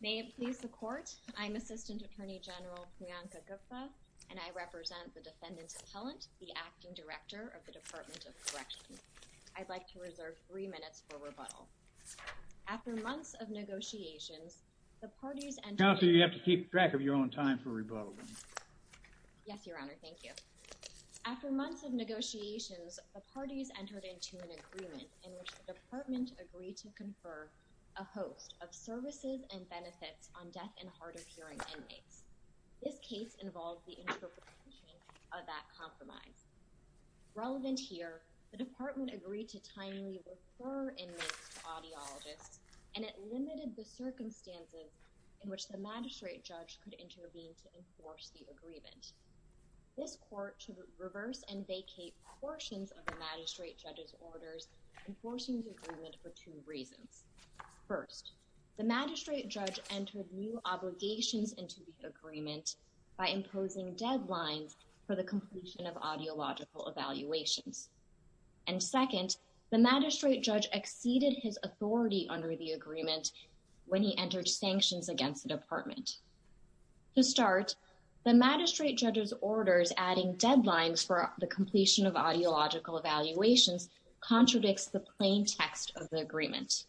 May it please the court, I'm Assistant Attorney General Priyanka Gupta, and I represent the Defendant's Appellant, the Acting Director of the Department of Corrections. I'd like to reserve three minutes for rebuttal. After months of negotiations, the parties and entered into an agreement in which the Department agreed to confer a host of services and benefits on deaf and hard-of-hearing inmates. This case involved the interpretation of that compromise. Relevant here, the Department agreed to timely refer inmates to audiologists, and it limited the circumstances in which the magistrate judge could intervene to enforce the agreement. This court should reverse and vacate portions of the magistrate judge's orders, enforcing the agreement for two reasons. First, the magistrate judge entered new obligations into the agreement by imposing deadlines for the completion of audiological evaluations. And when he entered sanctions against the Department. To start, the magistrate judge's orders adding deadlines for the completion of audiological evaluations contradicts the plain text of the agreement.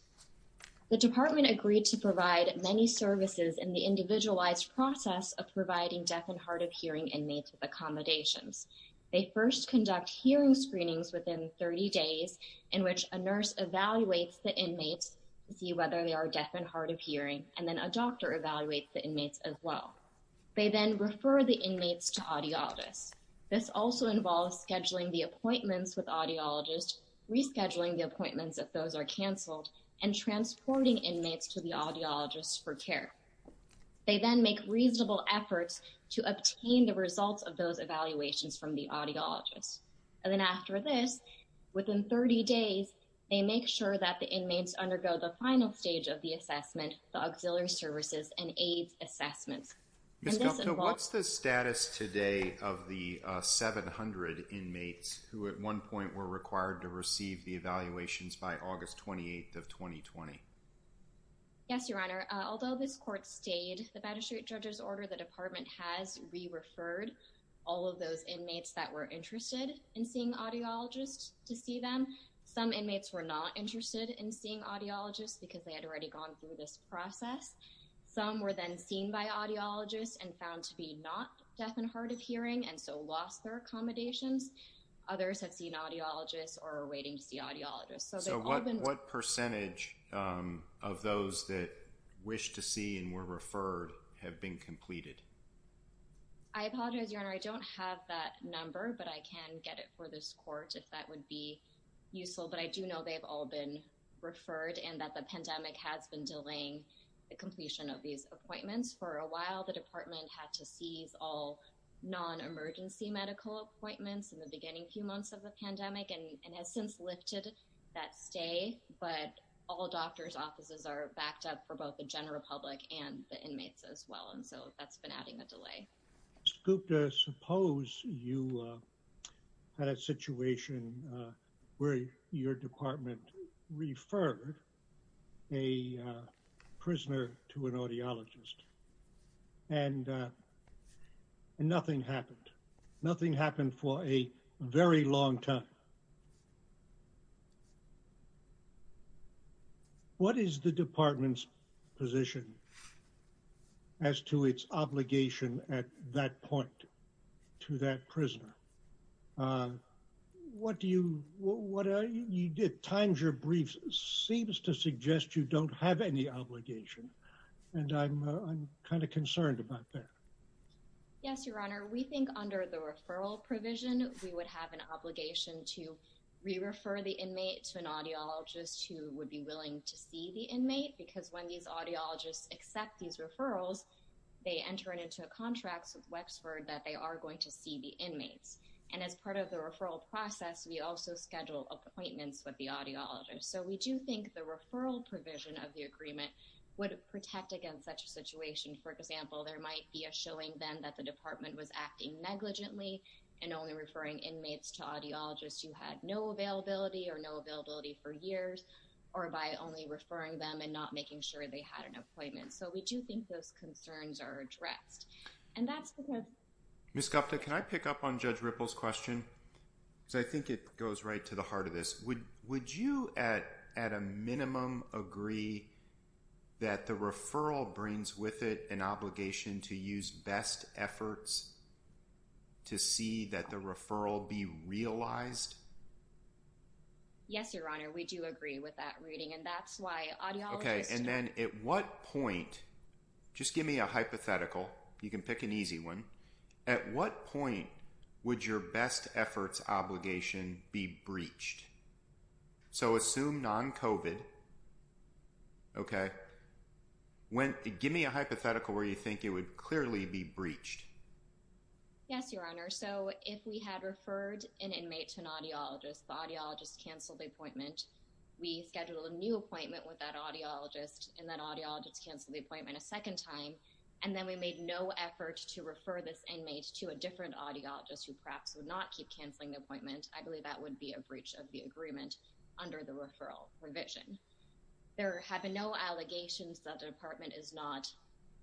The Department agreed to provide many services in the individualized process of providing deaf and hard-of-hearing inmates with accommodations. They first conduct hearing screenings within 30 days in which a nurse evaluates the inmates to see whether they are deaf and hard-of-hearing, and then a doctor evaluates the inmates as well. They then refer the inmates to audiologists. This also involves scheduling the appointments with audiologists, rescheduling the appointments if those are canceled, and transporting inmates to the audiologists for care. They then make reasonable efforts to obtain the results of those evaluations from the audiologists. And then after this, within 30 days, they make sure that the inmates undergo the final stage of the assessment, the auxiliary services and AIDS assessments. What's the status today of the 700 inmates who at one point were required to receive the evaluations by August 28th of 2020? Yes, Your Honor. Although this court stayed, the magistrate judge's order, the Department has re-referred all of those inmates that were interested in seeing audiologists to because they had already gone through this process. Some were then seen by audiologists and found to be not deaf and hard-of-hearing and so lost their accommodations. Others have seen audiologists or are waiting to see audiologists. So what percentage of those that wish to see and were referred have been completed? I apologize, Your Honor. I don't have that number, but I can get it for this court if that would be useful. But I do know they've all been referred and that the pandemic has been delaying the completion of these appointments. For a while, the Department had to seize all non-emergency medical appointments in the beginning few months of the pandemic and has since lifted that stay. But all doctor's offices are backed up for both the general public and the inmates as well. And so that's been adding a delay. Scupta, suppose you had a situation where your Department referred a prisoner to an audiologist and nothing happened. Nothing happened for a very long time. What is the obligation at that point to that prisoner? Times your briefs seems to suggest you don't have any obligation. And I'm kind of concerned about that. Yes, Your Honor. We think under the referral provision, we would have an obligation to re-refer the inmate to an audiologist who would be willing to see the inmate because when these audiologists accept these referrals, they enter it into a contract with Wexford that they are going to see the inmates. And as part of the referral process, we also schedule appointments with the audiologist. So we do think the referral provision of the agreement would protect against such a situation. For example, there might be a showing then that the Department was acting negligently and only referring inmates to audiologists who had no availability or no availability for years or by only referring them and not making sure they had an appointment. So we do think those concerns are addressed. Ms. Scupta, can I pick up on Judge Ripple's question? Because I think it goes right to the heart of this. Would you at a minimum agree that the referral brings with it an Yes, Your Honor. We do agree with that reading and that's why audiologists... Okay. And then at what point, just give me a hypothetical. You can pick an easy one. At what point would your best efforts obligation be breached? So assume non-COVID. Okay. Give me a hypothetical where you think it would clearly be breached. Yes, Your Honor. So if we had referred an inmate to an audiologist, the audiologist canceled the appointment. We scheduled a new appointment with that audiologist and that audiologist canceled the appointment a second time. And then we made no effort to refer this inmate to a different audiologist who perhaps would not keep canceling the appointment. I believe that would be a breach of the agreement under the referral provision. There have been no allegations that the Department is not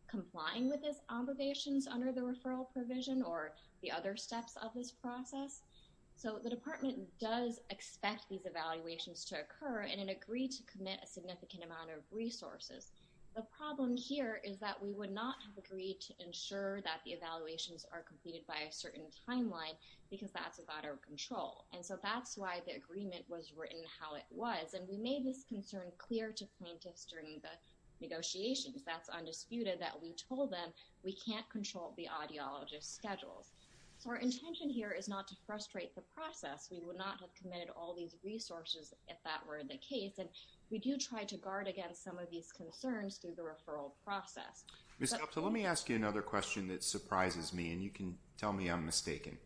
complying with its obligations under the referral provision or the other steps of this process. So the Department does expect these evaluations to occur and it agreed to commit a significant amount of resources. The problem here is that we would not have agreed to ensure that the evaluations are completed by a certain timeline because that's without our control. And so that's why the agreement was written how it was. And we made this concern clear to plaintiffs during the negotiations, that's undisputed, that we told them we can't control the audiologist's schedules. So our intention here is not to frustrate the process. We would not have committed all these resources if that were the case. And we do try to guard against some of these concerns through the referral process. Ms. Kopsa, let me ask you another question that surprises me and you can tell me I'm mistaken.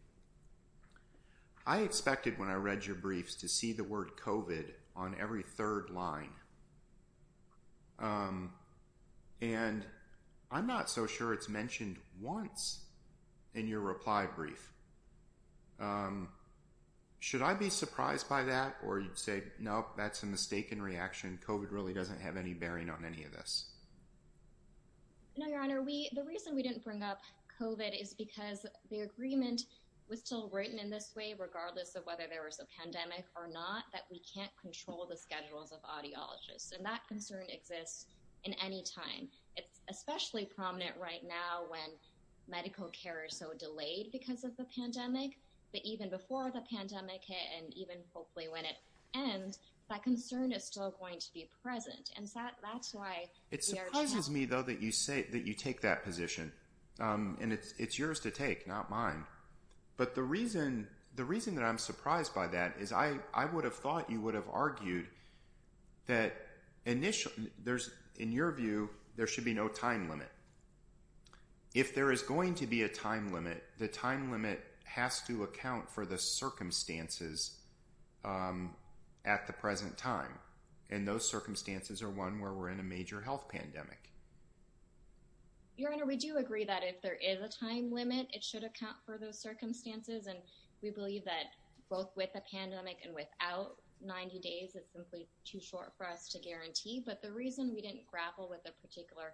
I expected when I read your briefs to see the word COVID on every third line. And I'm not so sure it's mentioned once in your reply brief. Should I be surprised by that? Or you'd say, no, that's a mistaken reaction. COVID really doesn't have any bearing on any of this. No, Your Honor. The reason we didn't bring up COVID is because the agreement was still written in this way, regardless of whether there was a pandemic or not, that we can't control the schedules of audiologists. And that concern exists in any time. It's especially prominent right now when medical care is so delayed because of the pandemic. But even before the pandemic hit, and even hopefully when it ends, that concern is still going to be present. And that's why the argument It surprises me, though, that you take that position. And it's yours to take, not mine. But the reason that I'm surprised by that is I would have thought you would have argued that initially, in your view, there should be no time limit. If there is going to be a time limit, the time limit has to account for the circumstances at the present time. And those circumstances are one where we're in a major health pandemic. Your Honor, we do agree that if there is a time limit, it should account for those circumstances. And we believe that both with a pandemic and without 90 days, it's simply too short for us to guarantee. But the reason we didn't grapple with a particular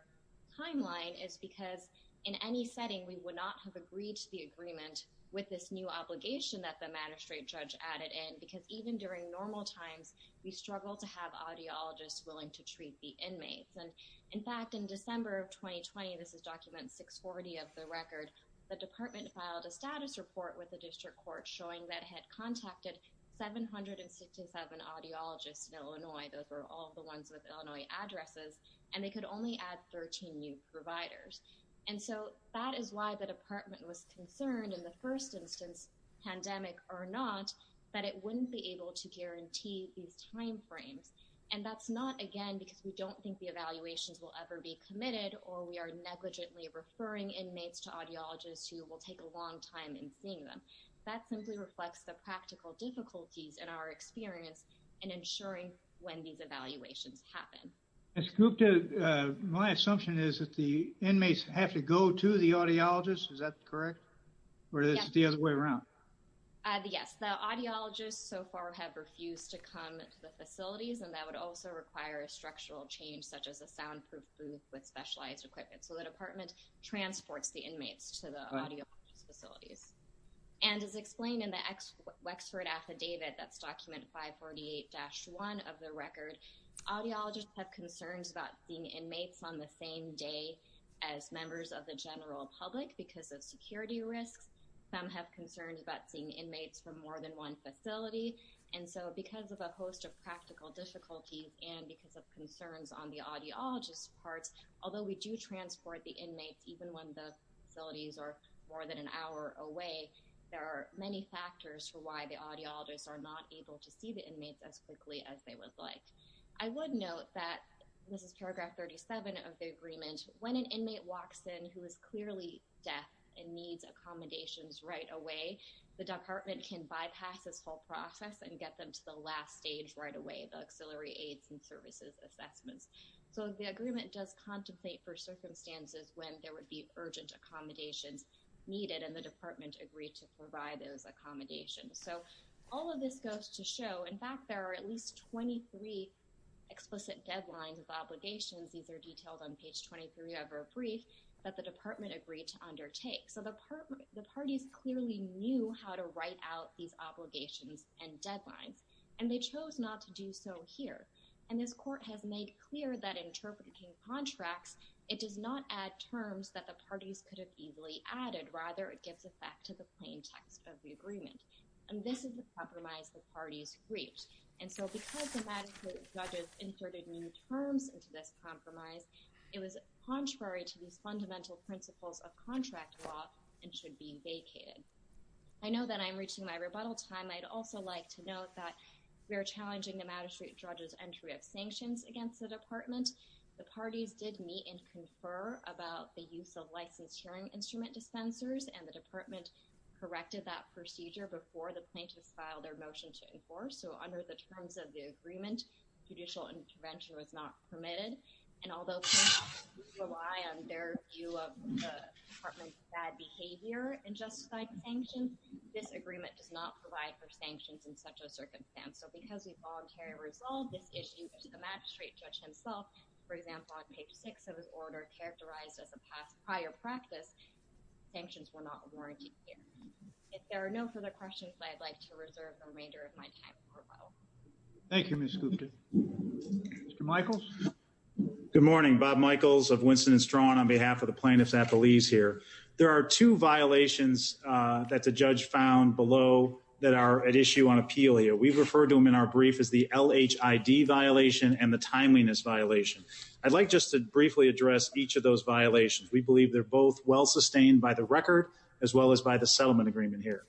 timeline is because in any setting, we would not have agreed to the agreement with this new obligation that the magistrate judge added in because even during normal times, we struggle to have audiologists willing to treat the inmates. And in fact, in December of 2020, this is document 640 of the record, the department filed a status report with the district court showing that had contacted 767 audiologists in Illinois. Those were all the ones with Illinois addresses. And they could only add 13 new providers. And so that is why the department was concerned in the first instance, pandemic or not, that it wouldn't be able to guarantee these time frames. And that's not, again, because we don't think the evaluations will ever be committed or we are negligently referring inmates to audiologists who will take a long time in seeing them. That simply reflects the practical difficulties in our experience in ensuring when these evaluations happen. My assumption is that the inmates have to go to the audiologist. Is that correct? Or is it the other way around? Yes, the audiologists so far have refused to come to the facilities and that would also require a structural change such as a soundproof booth with specialized equipment. So the department transports the inmates to the audiologist facilities. And as explained in the Wexford affidavit that's document 548-1 of the record, audiologists have concerns about seeing inmates on the same day as members of the general public because of security risks. Some have concerns about seeing inmates from more than one facility. And so because of a host of practical difficulties and because of concerns on the audiologist's part, although we do transport the inmates even when the facilities are more than an hour away, there are many factors for why the audiologists are not able to see the inmates as quickly as they would like. I would note that, this is paragraph 37 of the agreement, when an inmate walks in who is clearly deaf and needs accommodations right away, the department can bypass this whole process and get them to the last stage right away, the auxiliary aids and services assessments. So the agreement does contemplate for circumstances when there would be urgent accommodations needed and the department agreed to provide those accommodations. So all of this goes to show, in fact, there are at least 23 explicit deadlines of obligations. These are detailed on page 23 of our brief that the department agreed to undertake. So the parties clearly knew how to write out these obligations and deadlines. And they chose not to do so here. And this court has made clear that interpreting contracts, it does not add terms that the parties could have easily added. Rather, it gives effect to the plain text of the agreement. And this is the compromise the parties reached. And so because the magistrate judges inserted new terms into this compromise, it was contrary to these fundamental principles of contract law and should be vacated. I know that I'm reaching my rebuttal time. I'd also like to note that we are challenging the magistrate judge's entry of sanctions against the department. The parties did meet and confer about the use of licensed hearing instrument dispensers and the department corrected that procedure before the plaintiffs filed their motion to enforce. So under the terms of the agreement, judicial intervention was not permitted. And although we rely on their view of the department's bad behavior and justified sanctions, this agreement does not provide for sanctions in such a circumstance. So because we voluntarily resolved this issue to the magistrate judge himself, for example, on page 6 of his order characterized as a prior practice, sanctions were not warranted here. If there are no further questions, I'd like to reserve the remainder of my time for a vote. Thank you, Ms. Gupta. Mr. Michaels? Good morning. Bob Michaels of Winston & Straughan on behalf of the plaintiffs at Belize here. There are two violations that the judge found below that are at issue on appeal here. We refer to them in our brief as the LHID violation and the timeliness violation. I'd like just to briefly address each of those violations. We believe they're both well sustained by the record as well as by the settlement agreement here.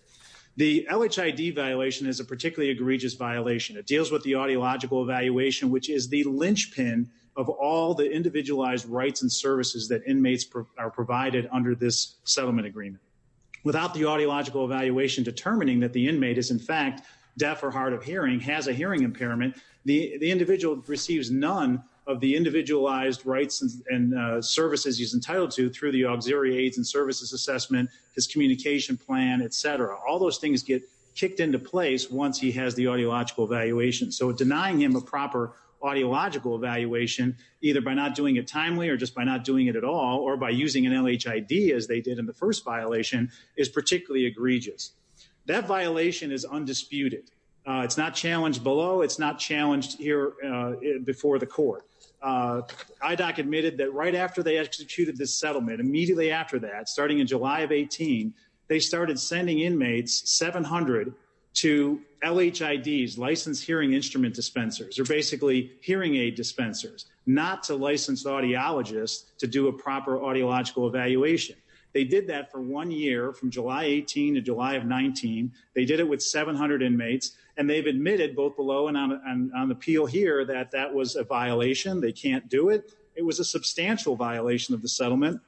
The LHID violation is a particularly egregious violation. It deals with the audiological evaluation, which is the lynch pin of all the individualized rights and services that inmates are provided under this settlement agreement. Without the audiological evaluation determining that the inmate is in fact deaf or hard of hearing, has a hearing impairment, the individual receives none of the individualized rights and services he's entitled to through the auxiliary aids and services assessment, his communication plan, etc. All those things get kicked into place once he has the audiological evaluation. So denying him a proper audiological evaluation, either by not doing it timely or just by not doing it at all, or by using an LHID as they did in the first violation, is particularly egregious. That violation is undisputed. It's not challenged below. It's not challenged here before the court. IDOC admitted that right after they executed this settlement, immediately after that, starting in July of 18, they started sending inmates 700 to LHIDs, licensed hearing instrument dispensers, or basically hearing aid dispensers, not to licensed audiologists to do a proper audiological evaluation. They did that for one year from July 18 to July of 19. They did it with 700 inmates, and they've admitted both below and on appeal here that that was a violation. They can't do it. It was a substantial violation of the settlement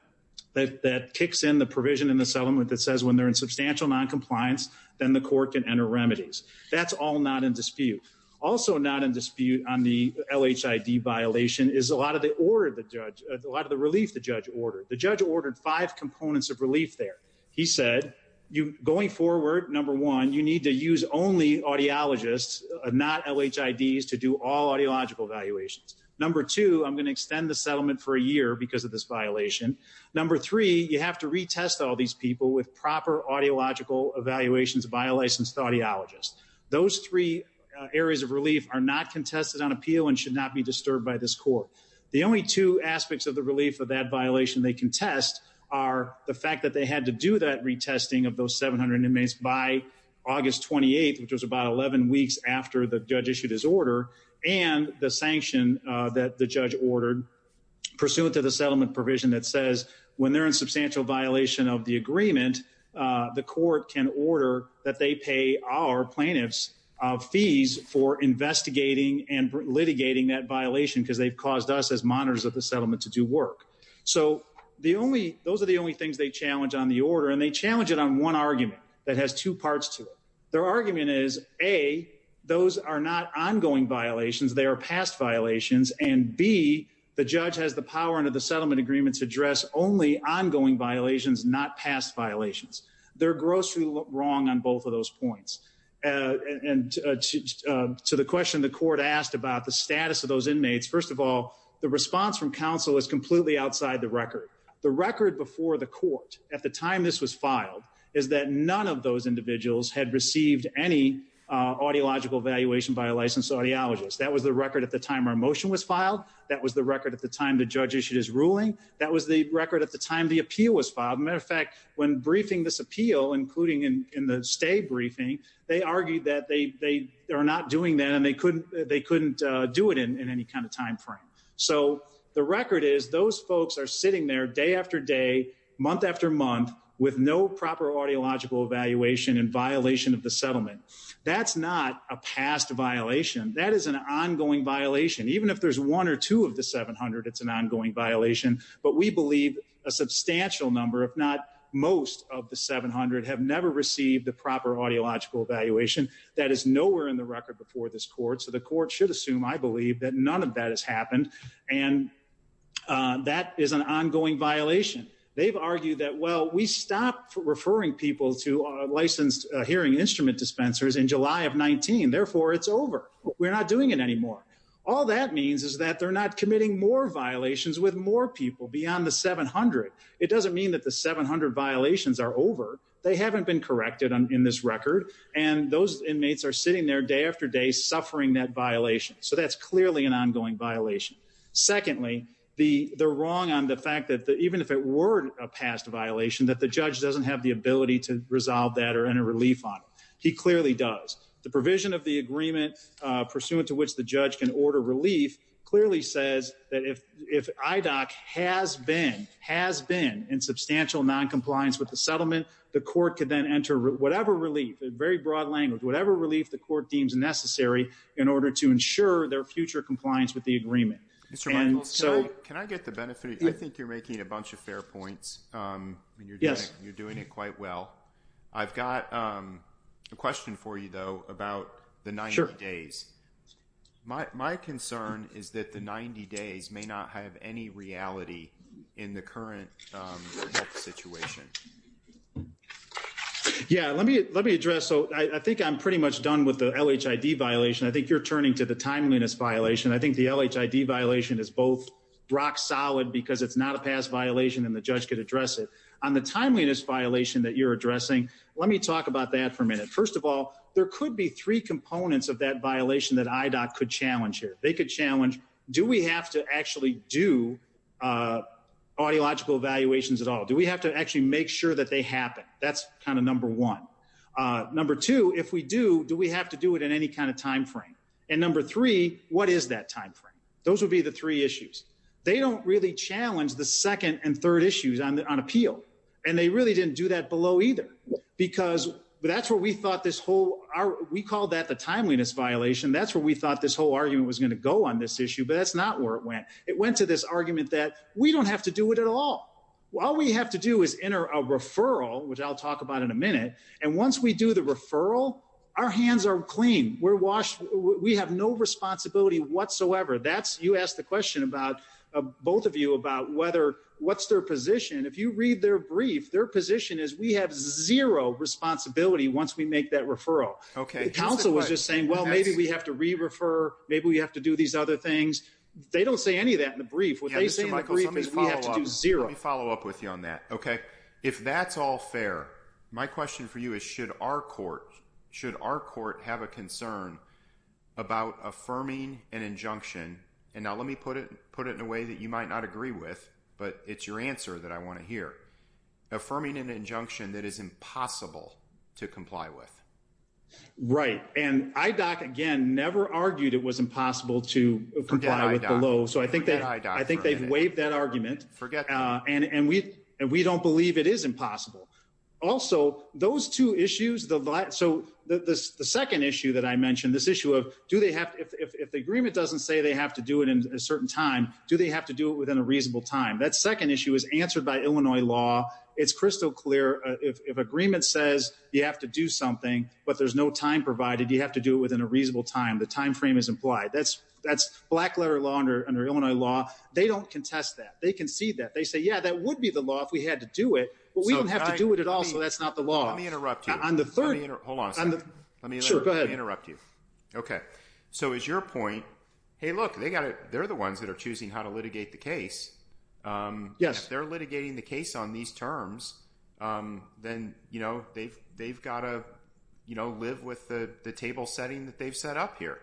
that kicks in the provision in the settlement that says when they're in substantial noncompliance, then the court can enter remedies. That's all not in dispute. Also not in dispute on the LHID violation is a lot of the order the judge, a lot of the relief the judge ordered. The judge ordered five components of relief there. He said going forward, number one, you need to use only audiologists, not LHIDs to do all audiological evaluations. Number two, I'm going to extend the settlement for a year because of this violation. Number three, you have to retest all these people with proper audiological evaluations by a licensed audiologist. Those three areas of relief are not contested on appeal and should not be disturbed by this court. The only two aspects of the relief of that violation they contest are the fact that they had to do that retesting of those 700 inmates by August 28th, which was about 11 weeks after the judge issued his order and the sanction that the judge ordered pursuant to the settlement provision that says when they're in substantial violation of the agreement, the court can order that they pay our plaintiffs fees for investigating and litigating that violation because they've caused us as monitors of the settlement to do work. So those are the only things they challenge on the order and they challenge it on one argument that has two parts to it. Their argument is, A, those are not ongoing violations, they are past violations, and B, the judge has the power under the settlement agreement to address only ongoing violations, not past violations. They're grossly wrong on both of those points. And to the question the court asked about the status of those inmates, first of all, the response from counsel is completely outside the record. The record before the court at the time this was filed is that none of those individuals had received any audiological evaluation by a licensed audiologist. That was the record at the time our motion was filed. That was the record at the time the judge issued his ruling. That was the record at the time the appeal was filed. Matter of fact, when briefing this appeal, including in the stay briefing, they argued that they are not doing that and they couldn't do it in any kind of time frame. So the record is those folks are sitting there day after day, month after month, with no proper audiological evaluation in violation of the settlement. That's not a past violation. That is an ongoing violation. Even if there's one or two of the 700, it's an ongoing violation. But we believe a substantial number, if not most of the 700, have never received the proper audiological evaluation. That is nowhere in the record before this court. So the court should assume, I believe, that none of that has happened. And that is an ongoing violation. They've argued that, well, we stopped referring people to licensed hearing instrument dispensers in July of 19. Therefore, it's over. We're not doing it anymore. All that means is that they're not committing more violations with more people beyond the 700. It doesn't mean that the 700 violations are over. They haven't been corrected in this record. And those inmates are sitting there day after day, suffering that violation. So that's clearly an ongoing violation. Secondly, they're wrong on the fact that even if it were a past violation, that the judge doesn't have the ability to resolve that or enter relief on it. He clearly does. The provision of the agreement, pursuant to which the judge can order relief, clearly says that if IDOC has been in substantial noncompliance with the settlement, the court could then enter whatever relief, in very broad language, whatever relief the court deems necessary in order to ensure their future compliance with the agreement. Mr. Michaels, can I get the benefit? I think you're making a bunch of fair points. You're doing it quite well. I've got a question for you, though, about the 90 days. My concern is that the 90 days may not have any reality in the current health situation. Yeah, let me address. So I think I'm pretty much done with the LHID violation. I think you're turning to the timeliness violation. I think the LHID violation is both rock solid because it's not a past violation and the judge could address it. On the timeliness violation that you're addressing, let me talk about that for a minute. First of all, there do we have to actually do audiological evaluations at all? Do we have to actually make sure that they happen? That's kind of number one. Number two, if we do, do we have to do it in any kind of timeframe? And number three, what is that timeframe? Those would be the three issues. They don't really challenge the second and third issues on appeal. And they really didn't do that below either because that's where we thought this whole, we call that the timeliness violation. That's where we thought this whole argument was going to go on this issue, but that's not where it went. It went to this argument that we don't have to do it at all. All we have to do is enter a referral, which I'll talk about in a minute. And once we do the referral, our hands are clean. We're washed. We have no responsibility whatsoever. That's, you asked the question about both of you about whether what's their position. If you read their brief, their position is we have zero responsibility once we make that referral. Okay. Counsel was just saying, well, maybe we have to re-refer, maybe we have to do these other things. They don't say any of that in the brief. What they say in the brief is we have to do zero. Let me follow up with you on that. Okay. If that's all fair, my question for you is, should our court, should our court have a concern about affirming an injunction? And now let me put it, put it in a way that you might not agree with, but it's your answer that I want to hear. Affirming an injunction that is impossible to comply with. Right. And IDOC, again, never argued it was impossible to comply with the law. So I think that, I think they've waived that argument. And we, and we don't believe it is impossible. Also those two issues, the, so the, the second issue that I mentioned, this issue of do they have, if the agreement doesn't say they have to do it in a certain time, do they have to do it within a reasonable time? That second issue is answered by Illinois law. It's crystal clear. If, if agreement says you have to do something, but there's no time provided, you have to do it within a reasonable time. The timeframe is implied. That's, that's black letter law under Illinois law. They don't contest that. They can see that. They say, yeah, that would be the law if we had to do it, but we don't have to do it at all. So that's not the law. Let me interrupt you. On the third, hold on a second. Let me interrupt you. Okay. So is your point, Hey, look, they got it. They're the ones that are on these terms. Then, you know, they've, they've got to, you know, live with the table setting that they've set up here.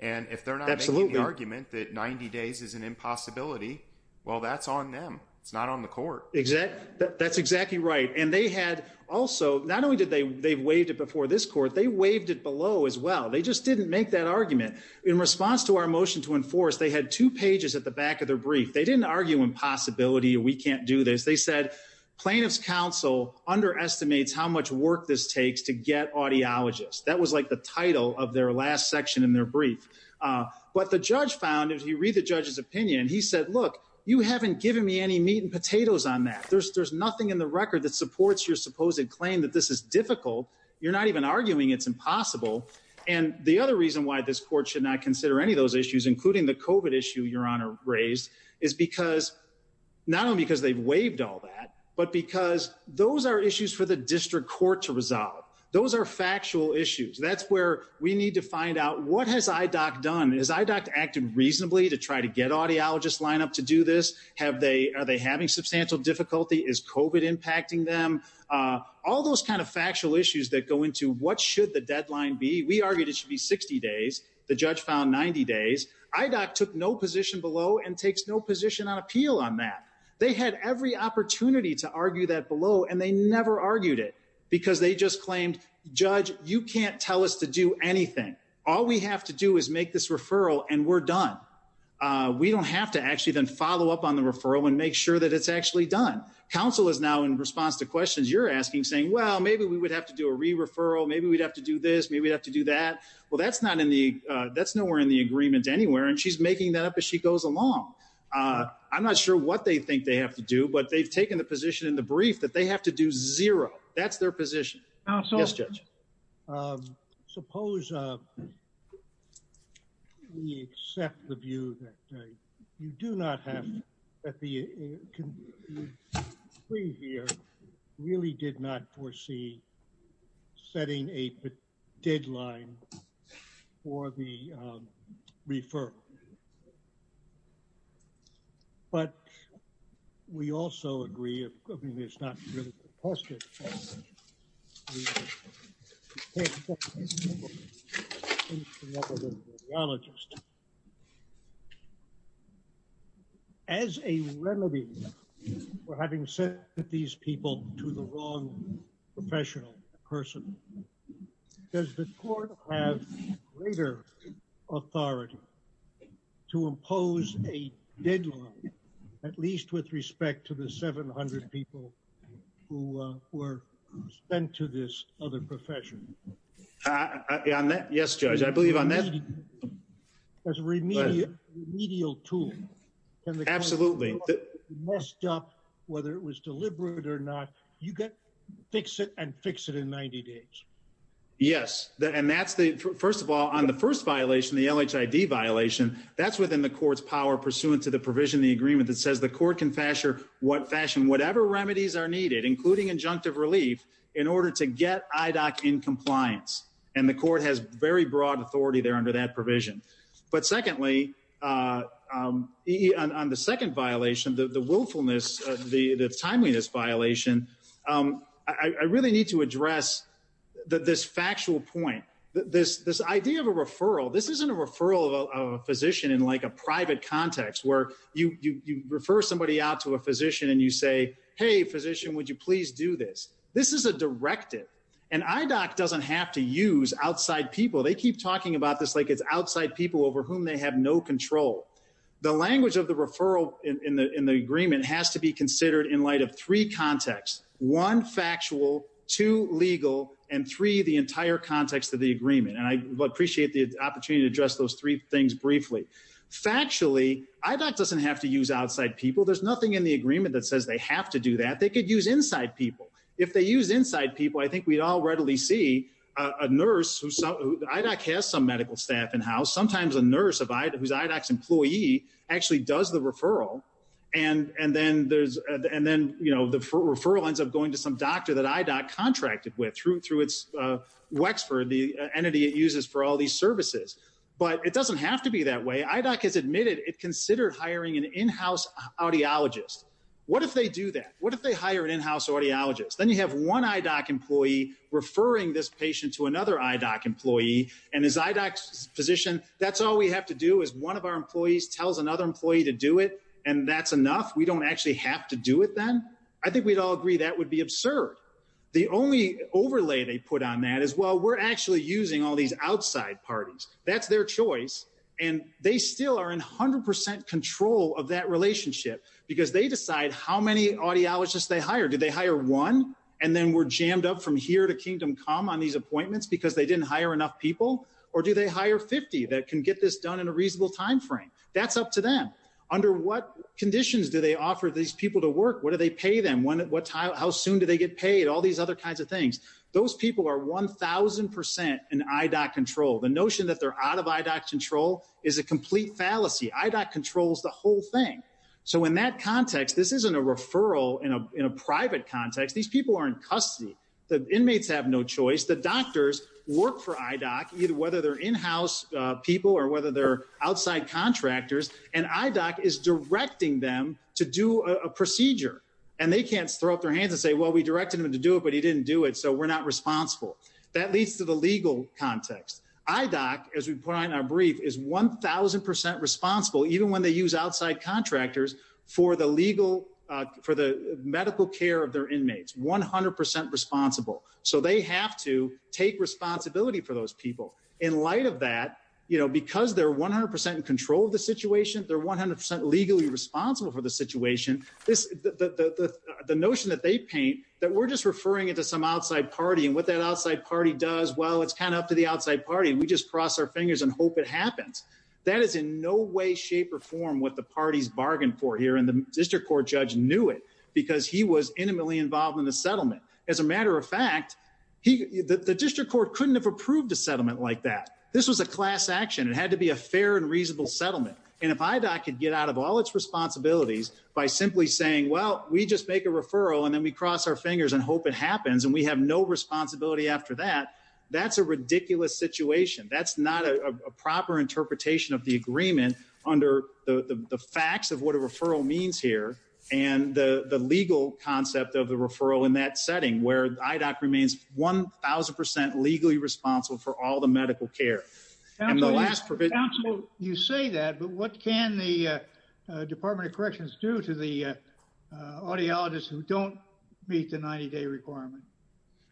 And if they're not making the argument that 90 days is an impossibility, well, that's on them. It's not on the court. Exactly. That's exactly right. And they had also, not only did they, they've waived it before this court, they waived it below as well. They just didn't make that argument in response to our motion to enforce. They had two pages at the back of their brief. They didn't argue impossibility. We can't do this. They said plaintiff's counsel underestimates how much work this takes to get audiologists. That was like the title of their last section in their brief. But the judge found, if you read the judge's opinion, he said, look, you haven't given me any meat and potatoes on that. There's, there's nothing in the record that supports your supposed claim that this is difficult. You're not even arguing it's impossible. And the other reason why this court should not consider any of those issues, including the COVID issue your honor raised is because, not only because they've waived all that, but because those are issues for the district court to resolve. Those are factual issues. That's where we need to find out what has IDOC done? Has IDOC acted reasonably to try to get audiologists line up to do this? Have they, are they having substantial difficulty? Is COVID impacting them? All those kinds of factual issues that go into what should the deadline be? We argued it should be 60 days. The judge found 90 days. IDOC took no position below and takes no position on appeal on that. They had every opportunity to argue that below and they never argued it because they just claimed judge, you can't tell us to do anything. All we have to do is make this referral and we're done. We don't have to actually then follow up on the referral and make sure that it's actually done. Council is now in response to questions you're asking saying, well, maybe we would have to do a re-referral. Maybe we'd have to do this. Maybe we'd have to do that. Well, that's not in the, uh, that's nowhere in the agreement anywhere. And she's making that up as she goes along. Uh, I'm not sure what they think they have to do, but they've taken the position in the brief that they have to do zero. That's their position. Yes, Judge. Um, suppose, uh, we accept the view that, uh, you do not have, that the, uh, the jury here really did not foresee setting a deadline for the, um, referral. But we also agree. I mean, it's not really a question. As a remedy for having sent these people to the wrong professional person, does the court have greater authority to impose a deadline, at least with respect to the 700 people who, uh, were sent to this other profession? Uh, on that? Yes, Judge. I believe on that. As a remedial tool. Absolutely. Whether it was deliberate or not, you can fix it and fix it in 90 days. Yes. And that's the, first of all, on the first violation, the LHID violation, that's within the court's power pursuant to the provision, the agreement that says the court can fashion what fashion, whatever remedies are needed, including injunctive relief in order to get IDOC in compliance. And the court has very broad authority there under that provision. But secondly, uh, um, on the second violation, the willfulness, the timeliness violation, um, I really need to address this factual point. This, this idea of a referral, this idea of a referral in a private context where you, you, you refer somebody out to a physician and you say, Hey physician, would you please do this? This is a directive and IDOC doesn't have to use outside people. They keep talking about this. Like it's outside people over whom they have no control. The language of the referral in the, in the agreement has to be considered in light of three contexts, one factual, two legal, and three, the entire context of the agreement. And I appreciate the opportunity to address those three things briefly. Factually, IDOC doesn't have to use outside people. There's nothing in the agreement that says they have to do that. They could use inside people if they use inside people. I think we'd all readily see a nurse who IDOC has some medical staff in house. Sometimes a nurse who's IDOC's employee actually does the referral. And, and then there's, and then, you know, the referral ends up going to some doctor that IDOC contracted with through, through its, uh, Wexford, the entity it uses for all these services, but it doesn't have to be that way. IDOC has admitted it considered hiring an in-house audiologist. What if they do that? What if they hire an in-house audiologist? Then you have one IDOC employee referring this patient to another IDOC employee and his IDOC physician. That's all we have to do is one of our employees tells another employee to do it. And that's enough. We don't actually have to do it then. I think we'd all agree that would be absurd. The only overlay they put on that as well, we're actually using all these outside parties. That's their choice. And they still are in a hundred percent control of that relationship because they decide how many audiologists they hire. Do they hire one? And then we're jammed up from here to kingdom come on these appointments because they didn't hire enough people, or do they hire 50 that can get this done in a reasonable timeframe? That's up to them. Under what conditions do they offer these people to work? What do they pay them? When, what time, how soon do they get paid? All these other kinds of things. Those people are 1000% in IDOC control. The notion that they're out of IDOC control is a complete fallacy. IDOC controls the whole thing. So in that context, this isn't a referral in a, in a private context. These people are in custody. The inmates have no choice. The doctors work for IDOC, either whether they're in-house people or whether they're outside contractors. And IDOC is directing them to do a procedure and they can't throw up their didn't do it. So we're not responsible. That leads to the legal context. IDOC, as we put on our brief is 1000% responsible, even when they use outside contractors for the legal, uh, for the medical care of their inmates, 100% responsible. So they have to take responsibility for those people in light of that, you know, because they're 100% in control of the situation, they're 100% legally responsible for the situation. This, the, the, the, the notion that they paint that we're just referring it to some outside party and what that outside party does. Well, it's kind of up to the outside party and we just cross our fingers and hope it happens. That is in no way, shape or form what the parties bargained for here. And the district court judge knew it because he was intimately involved in the settlement. As a matter of fact, he, the district court couldn't have approved a settlement like that. This was a class action. It had to be a fair and reasonable settlement. And if IDOC could get out of all its responsibilities by simply saying, well, we just make a referral and then we cross our fingers and hope it happens. And we have no responsibility after that. That's a ridiculous situation. That's not a proper interpretation of the agreement under the facts of what a referral means here. And the legal concept of the referral in that setting where IDOC remains 1000% legally responsible for all the medical care and the last provision. You say that, but what can the Department of Corrections do to the audiologists who don't meet the 90 day requirement?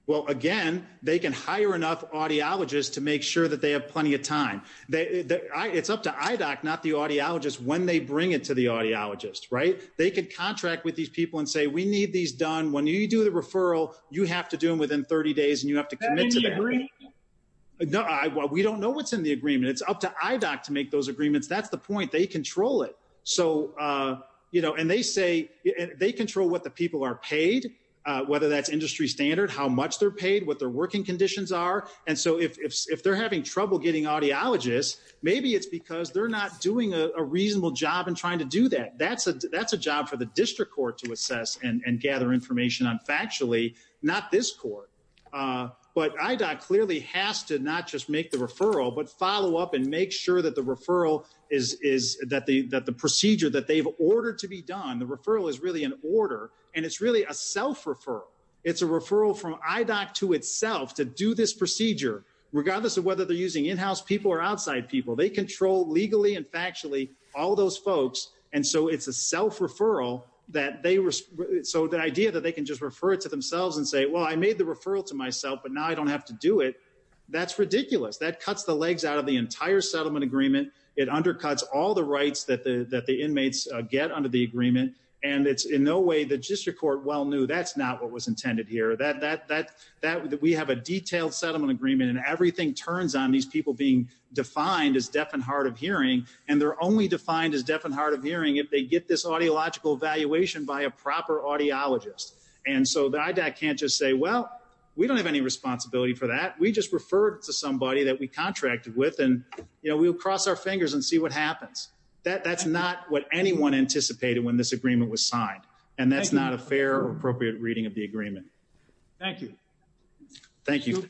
Well, again, they can hire enough audiologists to make sure that they have plenty of time. It's up to IDOC, not the audiologists when they bring it to the audiologists, right? They could contract with these people and say, we need these done. When you do the referral, you have to do them within 30 days and you have to commit to that. Is that in the agreement? No, we don't know what's in the agreement. It's up to IDOC to make those agreements. That's the point. They control it. And they say they control what the people are paid, whether that's industry standard, how much they're paid, what their working conditions are. And so if they're having trouble getting audiologists, maybe it's because they're not doing a reasonable job in trying to do that. That's a job for the district court to assess and gather information on factually, not this court. But IDOC clearly has to not just make the referral, but follow up and make sure that the referral is, that the procedure that they've ordered to be done, the referral is really an order. And it's really a self-referral. It's a referral from IDOC to itself to do this procedure, regardless of whether they're using in-house people or outside people. They control legally and factually all those folks. And so it's a self-referral that they, so the idea that they can just refer it to themselves and say, well, I made the referral to myself, but now I don't have to do it. That's ridiculous. That cuts the legs out of the entire settlement agreement. It undercuts all the rights that the inmates get under the agreement. And it's in no way the district court well knew that's not what was intended here. That we have a detailed settlement agreement and everything turns on these people being defined as deaf and hard of hearing. And they're only defined as deaf and hard of hearing if they get this And so the IDOC can't just say, well, we don't have any responsibility for that. We just referred to somebody that we contracted with and, you know, we'll cross our fingers and see what happens. That's not what anyone anticipated when this agreement was signed. And that's not a fair or appropriate reading of the agreement. Thank you. Thank you.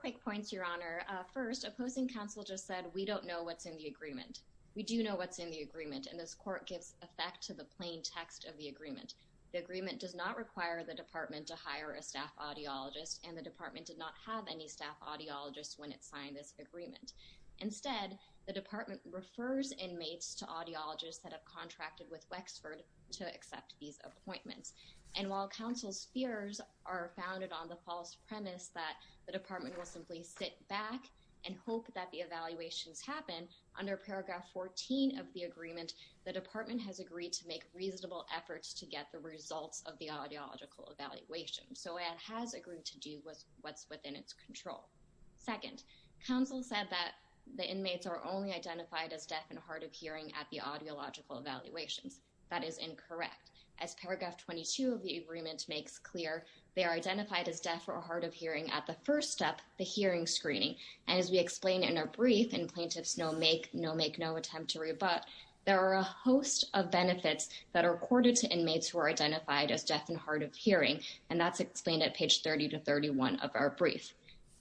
Quick points, Your Honor. First, opposing counsel just said, we don't know what's in the agreement. We do know what's in the agreement. And this court gives effect to the plain text of the agreement. The agreement does not require the department to hire a staff audiologist and the department did not have any staff audiologist when it signed this agreement. Instead, the department refers inmates to audiologists that have contracted with Wexford to accept these appointments. And while counsel's fears are founded on the false premise that the department will simply sit back and hope that the evaluations happen under paragraph 14 of the agreement, the department has agreed to make reasonable efforts to get the results of the audiological evaluation. So it has agreed to do with what's within its control. Second, counsel said that the inmates are only identified as deaf and hard of hearing at the audiological evaluations. That is incorrect. As paragraph 22 of the agreement makes clear, they are identified as deaf or hard of hearing at the first step, the hearing screening. And as we explained in our brief, and plaintiffs know make no attempt to rebut, there are a host of benefits that are accorded to inmates who are identified as deaf and hard of hearing. And that's explained at page 30 to 31 of our brief.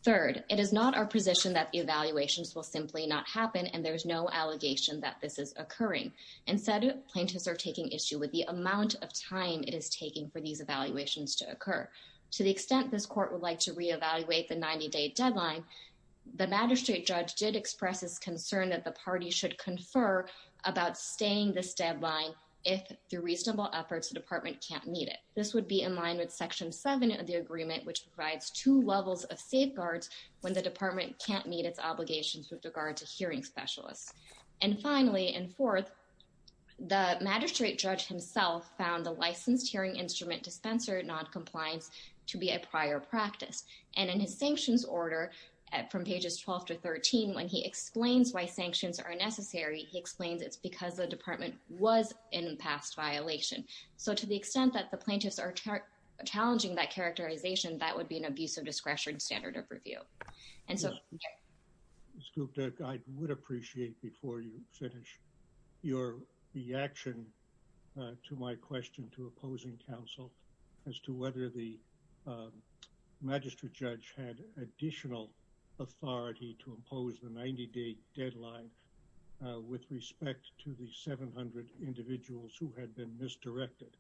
Third, it is not our position that the evaluations will simply not happen and there's no allegation that this is occurring. Instead, plaintiffs are taking issue with the amount of time it is taking for these evaluations to occur. To the extent this court would like to reevaluate the 90-day deadline, the magistrate judge did express his concern that the party should confer about staying this deadline if, through reasonable efforts, the department can't meet it. This would be in line with section 7 of the agreement, which provides two levels of safeguards when the department can't meet its obligations with regard to hearing specialists. And finally, and fourth, the magistrate judge himself found the licensed hearing instrument dispenser noncompliance to be a prior practice. And in his sanctions order, from pages 12 to 13, when he explains why sanctions are necessary, he explains it's because the department was in past violation. So to the extent that the plaintiffs are challenging that characterization, that would be an abuse of discretion standard of review. I would appreciate, before you finish, your reaction to my question to opposing counsel as to whether the magistrate judge had additional authority to impose the 90-day deadline with respect to the 700 individuals who had been misdirected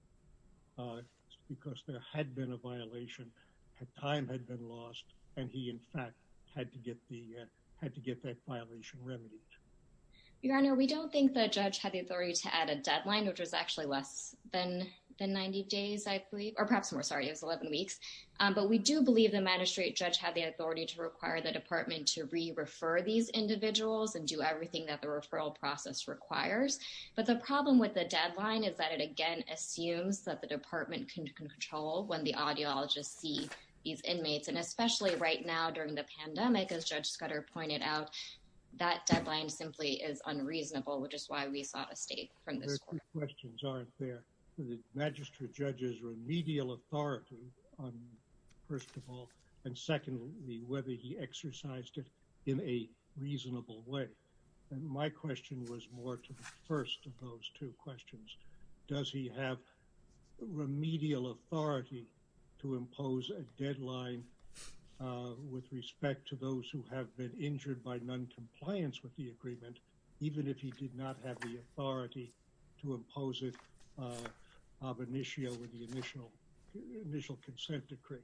because there had been a violation, time had been lost, and he, in fact, had to get that violation remedied. Your Honor, we don't think the judge had the authority to add a deadline, which was actually less than 90 days, I believe, or perhaps more. Sorry, it was 11 weeks. But we do believe the magistrate judge had the authority to require the department to re-refer these individuals and do everything that the referral process requires. But the problem with the deadline is that it, again, assumes that the department can control when the audiologists see these inmates, and especially right now during the pandemic, as Judge Scudder pointed out, that deadline simply is unreasonable, which is why we sought a state from this court. There are two questions, aren't there? The magistrate judge's remedial authority on, first of all, and secondly, whether he exercised it in a reasonable way. And my question was more to the first of those two questions. Does he have remedial authority to impose a deadline with respect to those who have been injured by noncompliance with the agreement, even if he did not have the authority to impose it ab initio with the initial consent decree?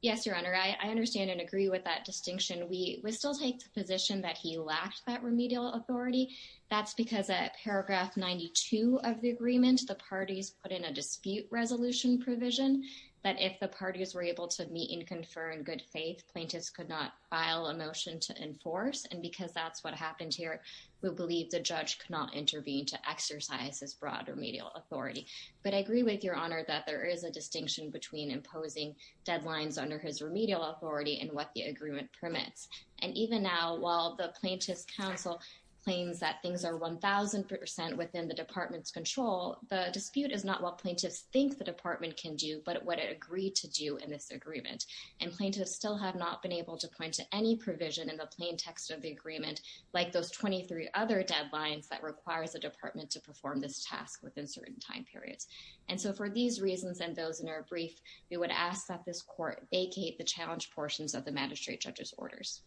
Yes, Your Honor, I understand and agree with that distinction. We still take the position that he lacked that remedial authority. That's because at paragraph 92 of the agreement, the parties put in a dispute resolution provision that if the parties were able to meet and confer in good faith, plaintiffs could not file a motion to enforce. And because that's what happened here, we believe the judge could not intervene to exercise his broad remedial authority. But I agree with Your Honor that there is a distinction between imposing deadlines under his remedial authority and what the agreement permits. And even now, while the plaintiff's counsel claims that things are 1,000% within the department's control, the dispute is not what plaintiffs think the department can do, but what it agreed to do in this agreement. And plaintiffs still have not been able to point to any provision in the plain text of the agreement, like those 23 other deadlines that requires the department to perform this task within certain time periods. And so for these reasons and those in our brief, we would ask that this court vacate the challenge portions of the magistrate judge's orders.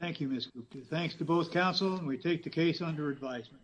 Thank you, Ms. Gupta. Thanks to both counsel, and we take the case under advisement.